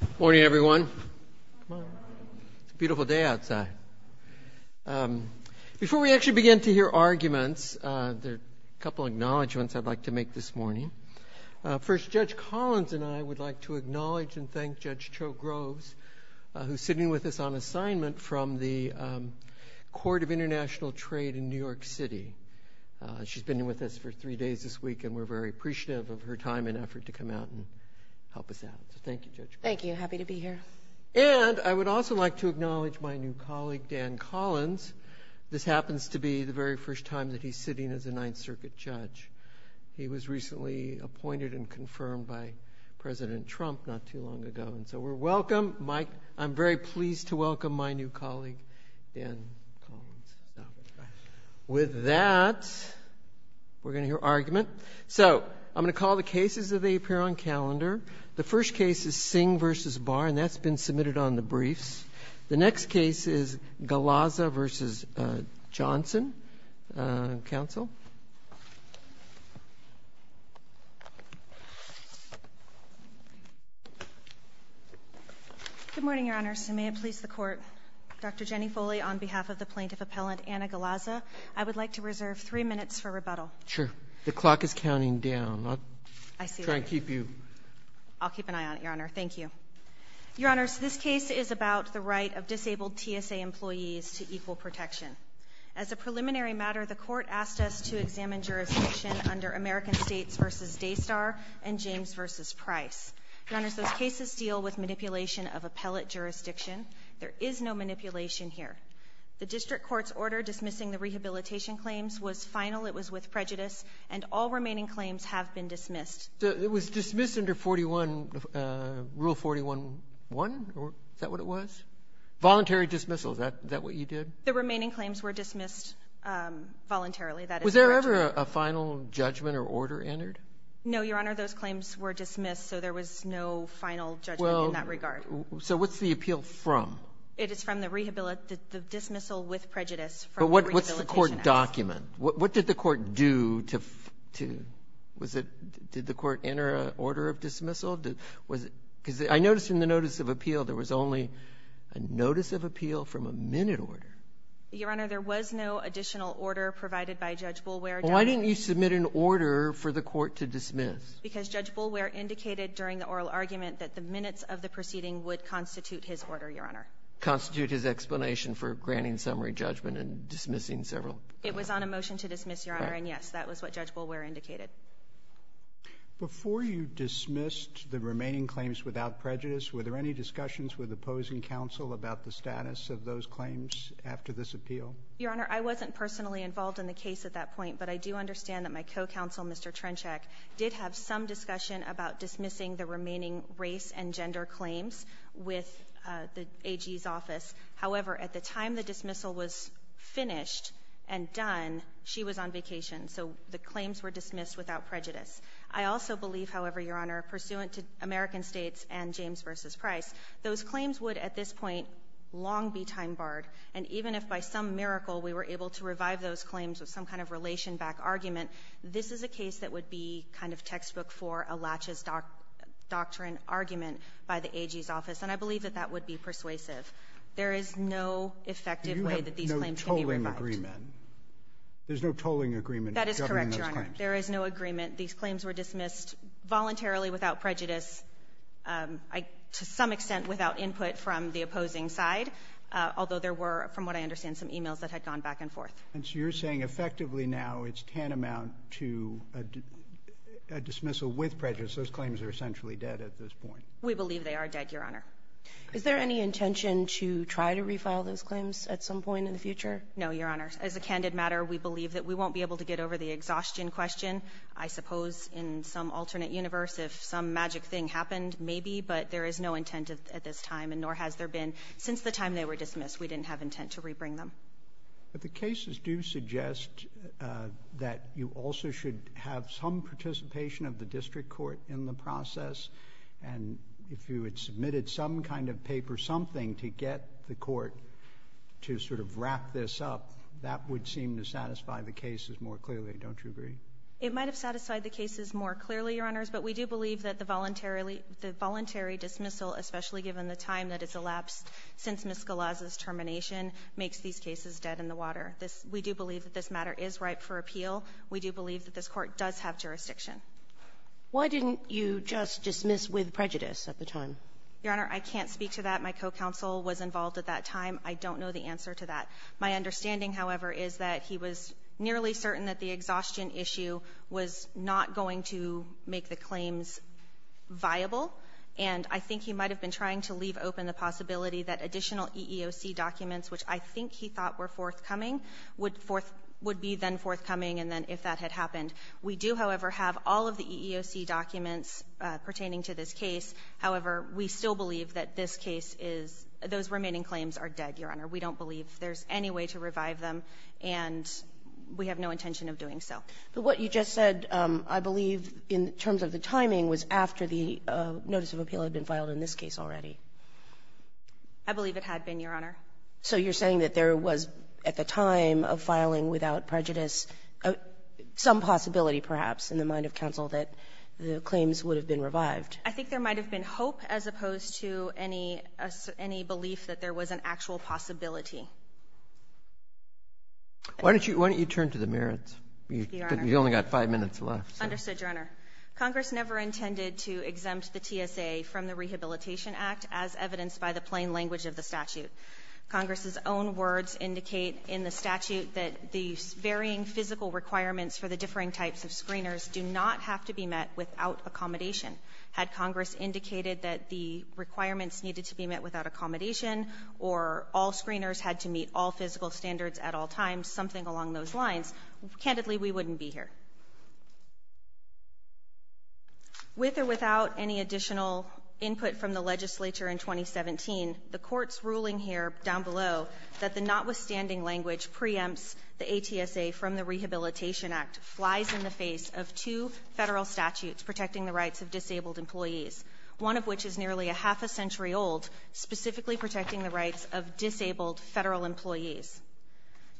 Good morning everyone. It's a beautiful day outside. Before we actually begin to hear arguments, there are a couple acknowledgments I'd like to make this morning. First, Judge Collins and I would like to acknowledge and thank Judge Cho Groves, who's sitting with us on assignment from the Court of International Trade in New York City. She's been with us for three days this week, and we're very appreciative of her time and effort to come out and help us out. So thank you, Judge. Thank you. Happy to be here. And I would also like to acknowledge my new colleague, Dan Collins. This happens to be the very first time that he's sitting as a Ninth Circuit judge. He was recently appointed and confirmed by President Trump not too long ago, and so we're welcome. I'm very pleased to welcome my new colleague, Dan Collins. With that, we're going to hear argument. So I'm going to call the cases as they appear on calendar. The first case is Singh v. Barr, and that's been submitted on the briefs. The next case is Galaza v. Johnson. Counsel. Good morning, Your Honors. May it please the Court. Dr. Jenny Foley, on behalf of the plaintiff appellant, Anna Galaza, I would like to reserve three minutes for rebuttal. Sure. The clock is counting down. I see that. I'll try and keep you. I'll keep an eye on it, Your Honor. Thank you. Your Honors, this case is about the right of disabled TSA employees to equal protection. As a preliminary matter, the Court asked us to examine jurisdiction under American States v. Daystar and James v. Price. Your Honors, those cases deal with manipulation of appellate jurisdiction. There is no manipulation here. The district court's order dismissing the rehabilitation claims was final. It was with prejudice. And all remaining claims have been dismissed. So it was dismissed under 41, Rule 41-1? Is that what it was? Voluntary dismissal. Is that what you did? The remaining claims were dismissed voluntarily. Was there ever a final judgment or order entered? No, Your Honor. Those claims were dismissed, so there was no final judgment in that regard. So what's the appeal from? It is from the dismissal with prejudice from the rehabilitation act. But what's the court document? What did the court do to do? Did the court enter an order of dismissal? Because I noticed in the notice of appeal there was only a notice of appeal from a minute order. Your Honor, there was no additional order provided by Judge Boulware. Why didn't you submit an order for the court to dismiss? Because Judge Boulware indicated during the oral argument that the minutes of the proceeding would constitute his order, Your Honor. Constitute his explanation for granting summary judgment and dismissing several It was on a motion to dismiss, Your Honor. And, yes, that was what Judge Boulware indicated. Before you dismissed the remaining claims without prejudice, were there any discussions with opposing counsel about the status of those claims after this appeal? Your Honor, I wasn't personally involved in the case at that point, but I do understand that my co-counsel, Mr. Trenchak, did have some discussion about dismissing the remaining race and gender claims with the AG's office. However, at the time the dismissal was finished and done, she was on vacation. So the claims were dismissed without prejudice. I also believe, however, Your Honor, pursuant to American States and James v. Price, those claims would at this point long be time-barred. And even if by some miracle we were able to revive those claims with some kind of relation-backed argument, this is a case that would be kind of textbook for a latches doctrine argument by the AG's office. And I believe that that would be persuasive. There is no effective way that these claims can be revived. There is no agreement. There's no tolling agreement governing those claims. That is correct, Your Honor. There is no agreement. These claims were dismissed voluntarily without prejudice, to some extent without input from the opposing side, although there were, from what I understand, some e-mails that had gone back and forth. And so you're saying effectively now it's tantamount to a dismissal with prejudice. Those claims are essentially dead at this point. We believe they are dead, Your Honor. Is there any intention to try to refile those claims at some point in the future? No, Your Honor. As a candid matter, we believe that we won't be able to get over the exhaustion question. I suppose in some alternate universe, if some magic thing happened, maybe, but there is no intent at this time, and nor has there been since the time they were dismissed. We didn't have intent to rebring them. But the cases do suggest that you also should have some participation of the district court in the process. And if you had submitted some kind of paper, something to get the court to sort of wrap this up, that would seem to satisfy the cases more clearly, don't you agree? It might have satisfied the cases more clearly, Your Honors. But we do believe that the voluntary dismissal, especially given the time that it's elapsed since Ms. Galaz's termination, makes these cases dead in the water. We do believe that this matter is ripe for appeal. We do believe that this Court does have jurisdiction. Why didn't you just dismiss with prejudice at the time? Your Honor, I can't speak to that. My co-counsel was involved at that time. I don't know the answer to that. My understanding, however, is that he was nearly certain that the exhaustion issue was not going to make the claims viable. And I think he might have been trying to leave open the possibility that additional EEOC documents, which I think he thought were forthcoming, would be then forthcoming and then if that had happened. We do, however, have all of the EEOC documents pertaining to this case. However, we still believe that this case is — those remaining claims are dead, Your Honor, and we don't believe there's any way to revive them. And we have no intention of doing so. But what you just said, I believe, in terms of the timing, was after the notice of appeal had been filed in this case already. I believe it had been, Your Honor. So you're saying that there was, at the time of filing without prejudice, some possibility perhaps in the mind of counsel that the claims would have been revived. I think there might have been hope as opposed to any — any belief that there was an actual possibility. Why don't you — why don't you turn to the merits? You've only got five minutes left. Understood, Your Honor. Congress never intended to exempt the TSA from the Rehabilitation Act as evidenced by the plain language of the statute. Congress's own words indicate in the statute that the varying physical requirements for the differing types of screeners do not have to be met without accommodation. Had Congress indicated that the requirements needed to be met without accommodation or all screeners had to meet all physical standards at all times, something along those lines, candidly, we wouldn't be here. With or without any additional input from the legislature in 2017, the Court's ruling here down below that the notwithstanding language preempts the ATSA from the Rehabilitation Act flies in the face of two Federal statutes protecting the rights of disabled employees, one of which is nearly a half a century old, specifically protecting the rights of disabled Federal employees.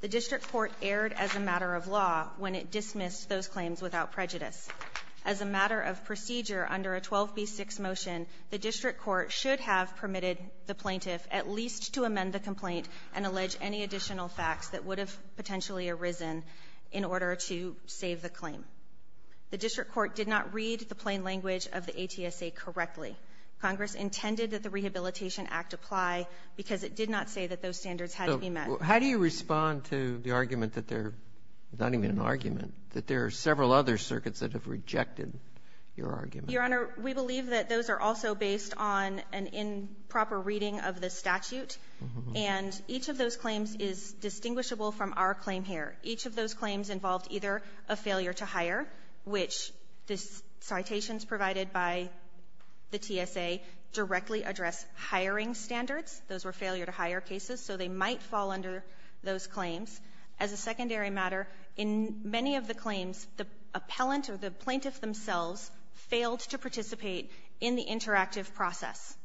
The district court erred as a matter of law when it dismissed those claims without prejudice. As a matter of procedure, under a 12b-6 motion, the district court should have permitted the plaintiff at least to amend the complaint and allege any additional facts that would have potentially arisen in order to save the claim. The district court did not read the plain language of the ATSA correctly. Congress intended that the Rehabilitation Act apply because it did not say that those standards had to be met. So how do you respond to the argument that they're not even an argument, that there are several other circuits that have rejected your argument? Your Honor, we believe that those are also based on an improper reading of the statute, and each of those claims is distinguishable from our claim here. Each of those claims involved either a failure to hire, which the citations provided by the TSA directly address hiring standards. Those were failure-to-hire cases, so they might fall under those claims. As a secondary matter, in many of the claims, the appellant or the plaintiff themselves failed to participate in the interactive process.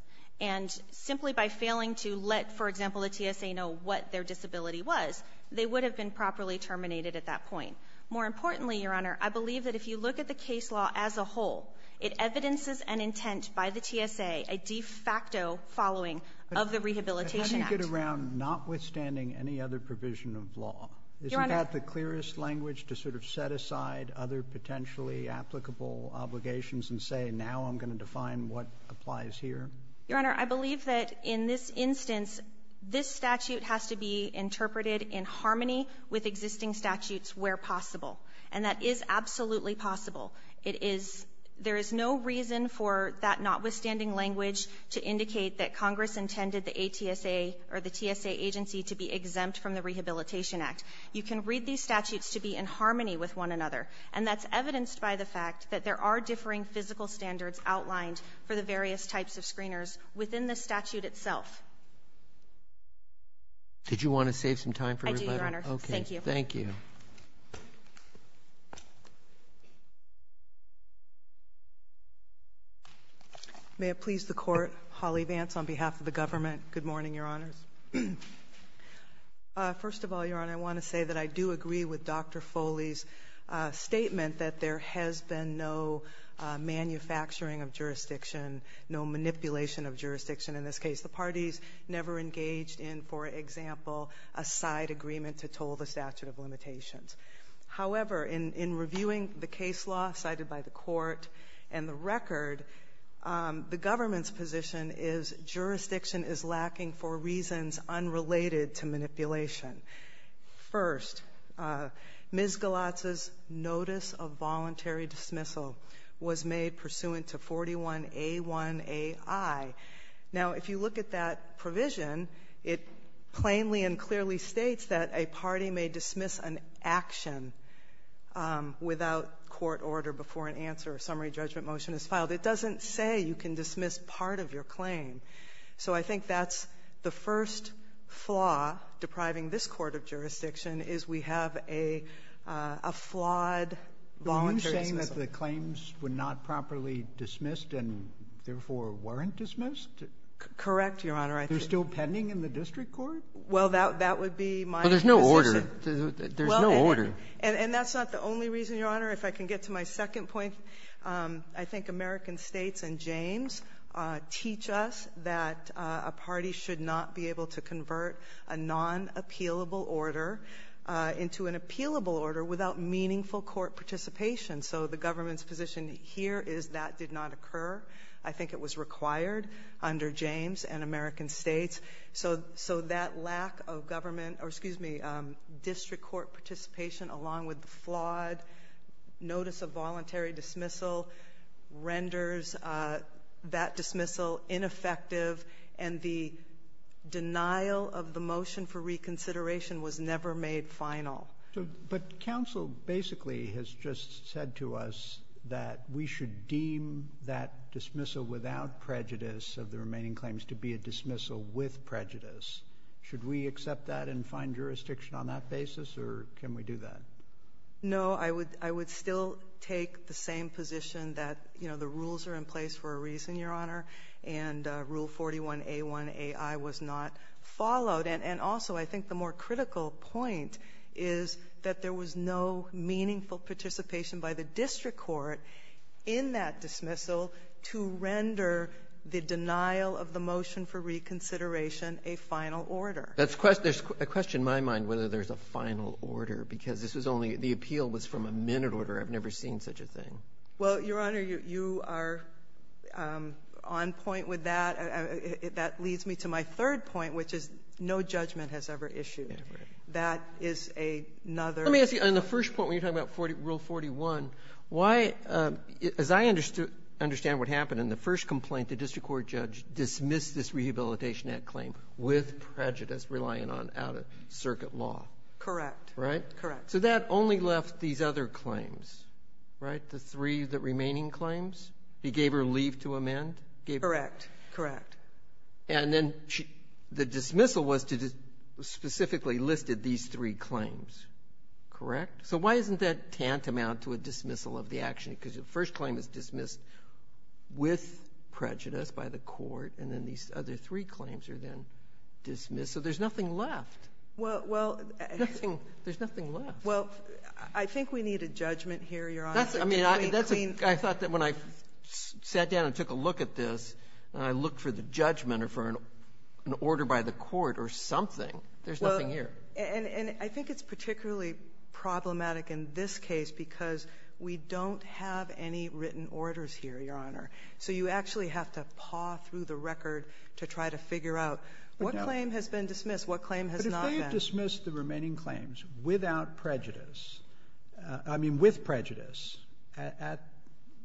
And simply by failing to let, for example, the TSA know what their disability was, they would have been properly terminated at that point. More importantly, Your Honor, I believe that if you look at the case law as a whole, it evidences an intent by the TSA, a de facto following of the Rehabilitation Act. How do you get around notwithstanding any other provision of law? Your Honor. Do you have the clearest language to sort of set aside other potentially applicable obligations and say, now I'm going to define what applies here? Your Honor, I believe that in this instance, this statute has to be interpreted in harmony with existing statutes where possible, and that is absolutely possible. It is — there is no reason for that notwithstanding language to indicate that Congress intended the ATSA or the TSA agency to be exempt from the Rehabilitation Act. You can read these statutes to be in harmony with one another, and that's evidenced by the fact that there are differing physical standards outlined for the various types of screeners within the statute itself. Did you want to save some time for everybody? I do, Your Honor. Thank you. Okay. Thank you. May it please the Court, Holly Vance on behalf of the government. Good morning, Your Honors. First of all, Your Honor, I want to say that I do agree with Dr. Foley's statement that there has been no manufacturing of jurisdiction, no manipulation of jurisdiction in this case. The parties never engaged in, for example, a side agreement to toll the statute of limitations. However, in reviewing the case law cited by the Court and the record, the government's position is jurisdiction is lacking for reasons unrelated to manipulation. First, Ms. Galatza's notice of voluntary dismissal was made pursuant to 41A1AI. Now, if you look at that provision, it plainly and clearly states that a party may dismiss an action without court order before an answer or summary judgment motion is filed. It doesn't say you can dismiss part of your claim. So I think that's the first flaw depriving this court of jurisdiction is we have a flawed voluntary dismissal. Are you saying that the claims were not properly dismissed and therefore weren't dismissed? Correct, Your Honor. They're still pending in the district court? Well, that would be my position. Well, there's no order. There's no order. And that's not the only reason, Your Honor. If I can get to my second point, I think American States and James teach us that a party should not be able to convert a non-appealable order into an appealable order without meaningful court participation. So the government's position here is that did not occur. I think it was required under James and American States. So that lack of government or, excuse me, district court participation along with the flawed notice of voluntary dismissal renders that dismissal ineffective. And the denial of the motion for reconsideration was never made final. But counsel basically has just said to us that we should deem that dismissal without prejudice of the remaining claims to be a dismissal with prejudice. Should we accept that and find jurisdiction on that basis? Or can we do that? No, I would still take the same position that the rules are in place for a reason, Your Honor, and Rule 41A1AI was not followed. And also, I think the more critical point is that there was no meaningful participation by the district court in that dismissal to render the denial of the final order. There's a question in my mind whether there's a final order, because this was only the appeal was from a minute order. I've never seen such a thing. Well, Your Honor, you are on point with that. That leads me to my third point, which is no judgment has ever issued. That is another. Let me ask you, on the first point when you're talking about Rule 41, why, as I understand what happened in the first complaint, the district court judge dismissed this Rehabilitation Act claim with prejudice, relying on out-of-circuit law. Correct. Right? Correct. So that only left these other claims, right, the three remaining claims? He gave her leave to amend? Correct. Correct. And then the dismissal was to specifically list these three claims. Correct? So why isn't that tantamount to a dismissal of the action? Because the first claim is dismissed with prejudice by the court, and then these other three claims are then dismissed. So there's nothing left. Well, I think we need a judgment here, Your Honor. I thought that when I sat down and took a look at this and I looked for the judgment or for an order by the court or something, there's nothing here. And I think it's particularly problematic in this case because we don't have any written orders here, Your Honor. So you actually have to paw through the record to try to figure out what claim has been dismissed, what claim has not been. But if they have dismissed the remaining claims without prejudice, I mean with prejudice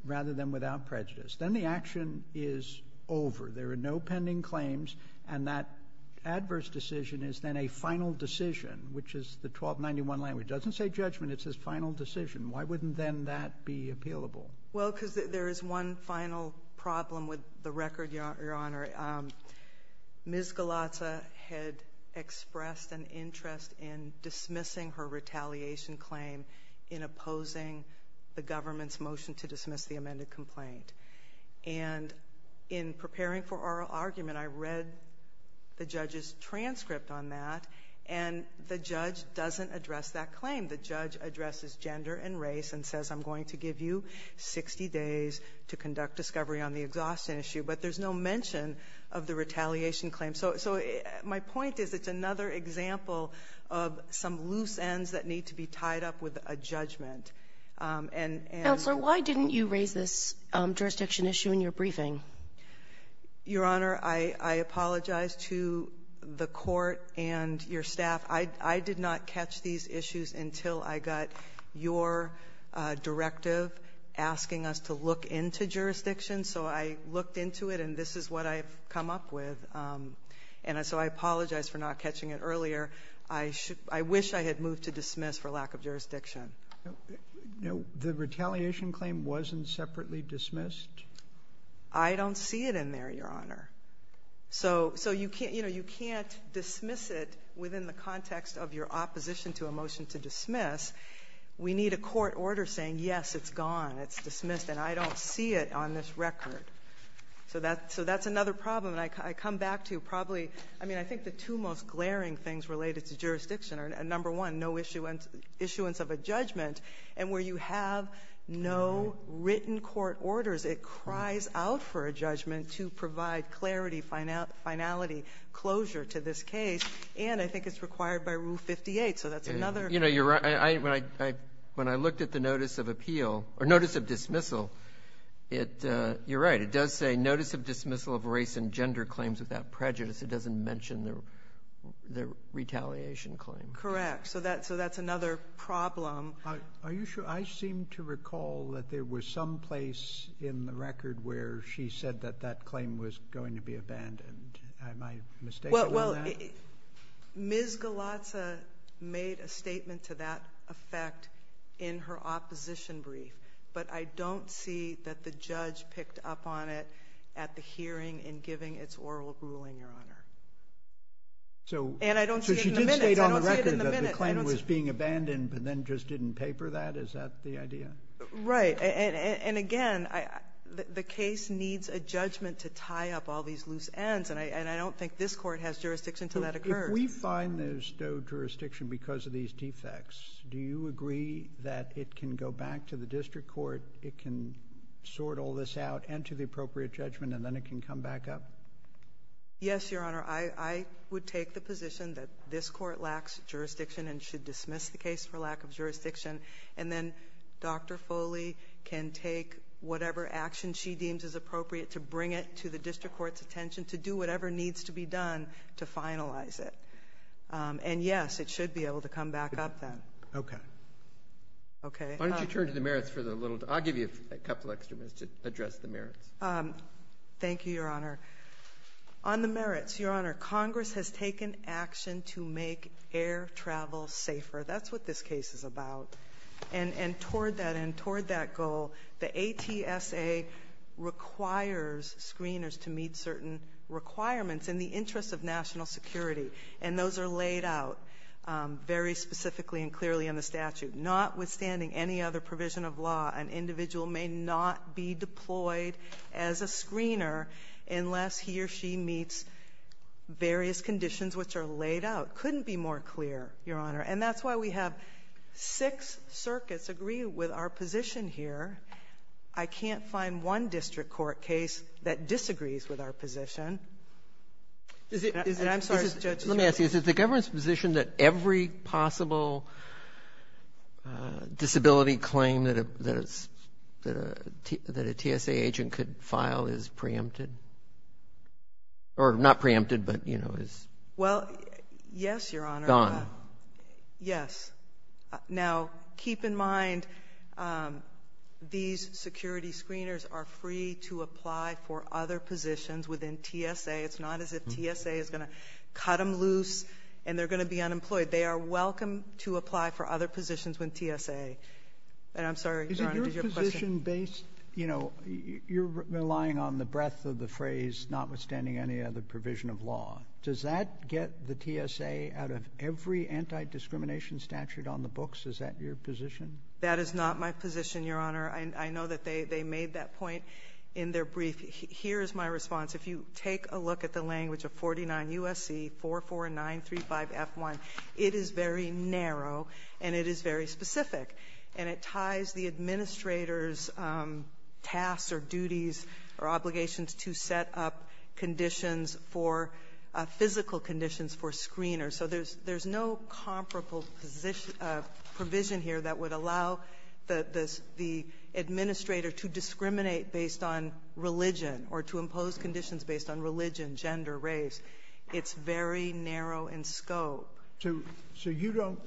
rather than without prejudice, then the action is over. There are no pending claims, and that adverse decision is then a final decision, which is the 1291 language. It doesn't say judgment. It says final decision. Why wouldn't then that be appealable? Well, because there is one final problem with the record, Your Honor. Ms. Galatza had expressed an interest in dismissing her retaliation claim in opposing the government's motion to dismiss the amended complaint. And in preparing for our argument, I read the judge's transcript on that, and the judge doesn't address that claim. The judge addresses gender and race and says I'm going to give you 60 days to conduct discovery on the exhaustion issue. But there's no mention of the retaliation claim. So my point is it's another example of some loose ends that need to be tied up with a judgment. And so why didn't you raise this jurisdiction issue in your briefing? Your Honor, I apologize to the Court and your staff. I did not catch these issues until I got your directive asking us to look into jurisdiction. So I looked into it, and this is what I've come up with. And so I apologize for not catching it earlier. I wish I had moved to dismiss for lack of jurisdiction. The retaliation claim wasn't separately dismissed? I don't see it in there, Your Honor. So, you know, you can't dismiss it within the context of your opposition to a motion to dismiss. We need a court order saying, yes, it's gone, it's dismissed, and I don't see it on this record. So that's another problem. And I come back to probably, I mean, I think the two most glaring things related to jurisdiction are, number one, no issuance of a judgment. And where you have no written court orders, it cries out for a judgment to provide clarity, finality, closure to this case. And I think it's required by Rule 58, so that's another. You know, you're right. When I looked at the notice of appeal or notice of dismissal, you're right. It does say notice of dismissal of race and gender claims without prejudice. It doesn't mention the retaliation claim. Correct. So that's another problem. Are you sure? I seem to recall that there was some place in the record where she said that that claim was going to be abandoned. Am I mistaken on that? Well, Ms. Galatza made a statement to that effect in her opposition brief. But I don't see that the judge picked up on it at the hearing in giving its oral ruling, Your Honor. And I don't see it in the minutes. So she did state on the record that the claim was being abandoned, but then just didn't paper that? Is that the idea? Right. And again, the case needs a judgment to tie up all these loose ends, and I don't think this Court has jurisdiction until that occurs. If we find there's no jurisdiction because of these defects, do you agree that it can go back to the district court, it can sort all this out, enter the appropriate judgment, and then it can come back up? Yes, Your Honor. I would take the position that this Court lacks jurisdiction and should dismiss the case for lack of jurisdiction. And then Dr. Foley can take whatever action she deems is appropriate to bring it to the district court's attention to do whatever needs to be done to finalize it. And yes, it should be able to come back up then. Okay. Okay. Why don't you turn to the merits for the little – I'll give you a couple extra minutes to address the merits. Thank you, Your Honor. On the merits, Your Honor, Congress has taken action to make air travel safer. That's what this case is about. And toward that end, toward that goal, the ATSA requires screeners to meet certain requirements in the interest of national security. And those are laid out very specifically and clearly in the statute. Notwithstanding any other provision of law, an individual may not be deployed as a screener unless he or she meets various conditions which are laid out. Couldn't be more clear, Your Honor. And that's why we have six circuits agree with our position here. I can't find one district court case that disagrees with our position. I'm sorry, Judge. Let me ask you, is it the government's position that every possible disability claim that a TSA agent could file is preempted? Or not preempted, but, you know, is gone? Well, yes, Your Honor. Gone. Yes. Now, keep in mind, these security screeners are free to apply for other positions within TSA. It's not as if TSA is going to cut them loose and they're going to be unemployed. They are welcome to apply for other positions with TSA. And I'm sorry, Your Honor, did you have a question? Is it your position based, you know, you're relying on the breadth of the phrase notwithstanding any other provision of law. Does that get the TSA out of every anti-discrimination statute on the books? Is that your position? That is not my position, Your Honor. I know that they made that point in their brief. Here is my response. If you take a look at the language of 49 U.S.C. 44935F1, it is very narrow and it is very specific. And it ties the administrator's tasks or duties or obligations to set up conditions for physical conditions for screeners. So there's no comparable provision here that would allow the administrator to discriminate based on religion or to impose conditions based on religion, gender, race. It's very narrow in scope. So you don't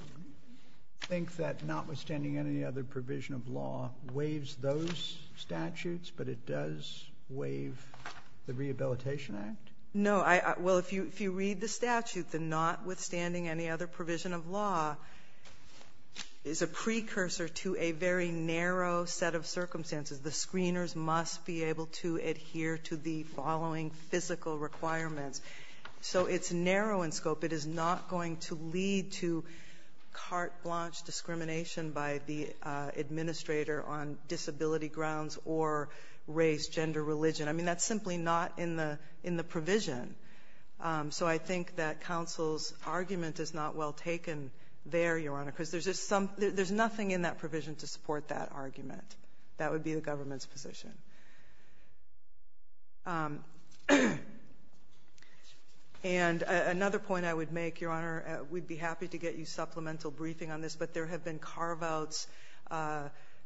think that notwithstanding any other provision of law waives those statutes, but it does waive the Rehabilitation Act? No. Well, if you read the statute, the notwithstanding any other provision of law is a precursor to a very narrow set of circumstances. The screeners must be able to adhere to the following physical requirements. So it's narrow in scope. It is not going to lead to carte blanche discrimination by the administrator on disability grounds or race, gender, religion. I mean, that's simply not in the provision. So I think that counsel's argument is not well taken there, Your Honor, because there's nothing in that provision to support that argument. That would be the government's position. And another point I would make, Your Honor, we'd be happy to get you supplemental briefing on this, but there have been carve-outs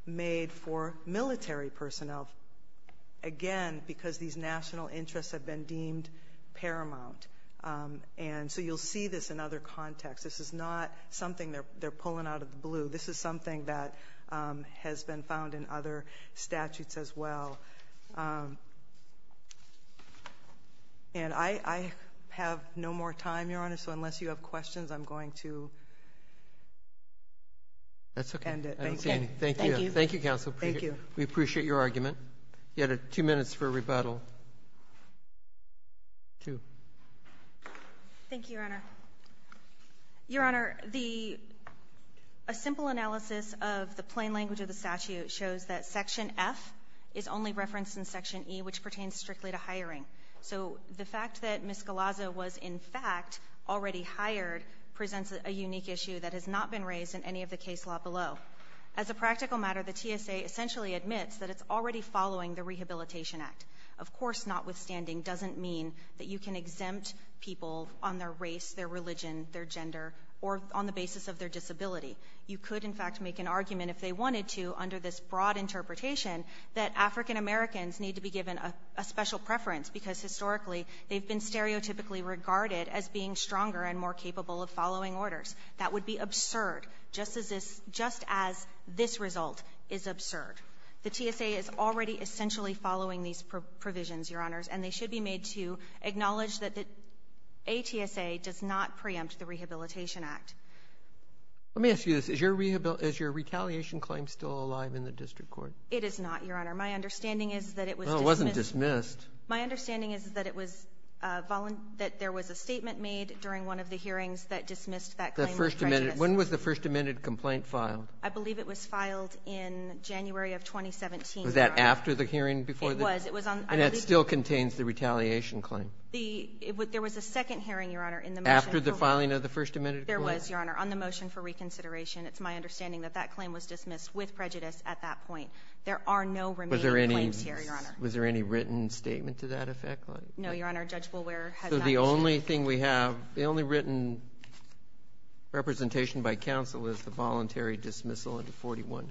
made for military personnel, again, because these national interests have been deemed paramount. And so you'll see this in other contexts. This is not something they're pulling out of the blue. This is something that has been found in other statutes as well. And I have no more time, Your Honor, so unless you have questions, I'm going to end it. Thank you. Thank you. Thank you, counsel. Thank you. We appreciate your argument. You had two minutes for rebuttal. Two. Thank you, Your Honor. Your Honor, a simple analysis of the plain language of the statute shows that Section F is only referenced in Section E, which pertains strictly to hiring. So the fact that Ms. Galazza was, in fact, already hired presents a unique issue that has not been raised in any of the case law below. As a practical matter, the TSA essentially admits that it's already following the Rehabilitation Act. Of course, notwithstanding doesn't mean that you can exempt people on their race, their religion, their gender, or on the basis of their disability. You could, in fact, make an argument, if they wanted to, under this broad interpretation, that African Americans need to be given a special preference, because historically they've been stereotypically regarded as being stronger and more capable of following orders. That would be absurd, just as this result is absurd. The TSA is already essentially following these provisions, Your Honors, and they should be made to acknowledge that the ATSA does not preempt the Rehabilitation Act. Let me ask you this. Is your retaliation claim still alive in the district court? It is not, Your Honor. My understanding is that it was dismissed. Well, it wasn't dismissed. My understanding is that it was — that there was a statement made during one of the hearings that dismissed that claim with prejudice. When was the First Amendment complaint filed? I believe it was filed in January of 2017, Your Honor. Was that after the hearing before the hearing? It was. And it still contains the retaliation claim? The — there was a second hearing, Your Honor, in the motion. After the filing of the First Amendment complaint? There was, Your Honor, on the motion for reconsideration. It's my understanding that that claim was dismissed with prejudice at that point. There are no remaining claims here, Your Honor. Was there any — was there any written statement to that effect? No, Your Honor. Judge Bullwher has not mentioned it. So the only thing we have, the only written representation by counsel is the voluntary dismissal of the 41A1.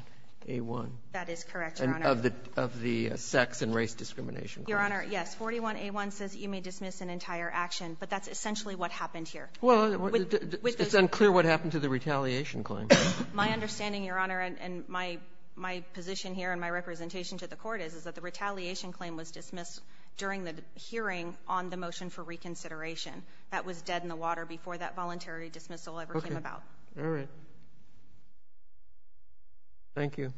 That is correct, Your Honor. And of the — of the sex and race discrimination claim. Your Honor, yes. 41A1 says you may dismiss an entire action, but that's essentially what happened Well, it's unclear what happened to the retaliation claim. My understanding, Your Honor, and my position here and my representation to the Court is, is that the retaliation claim was dismissed during the hearing on the motion for reconsideration. That was dead in the water before that voluntary dismissal ever came about. Okay. All right. Thank you.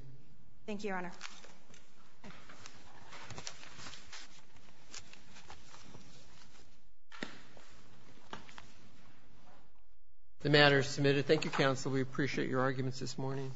The matter is submitted. Thank you, counsel. We appreciate your arguments this morning.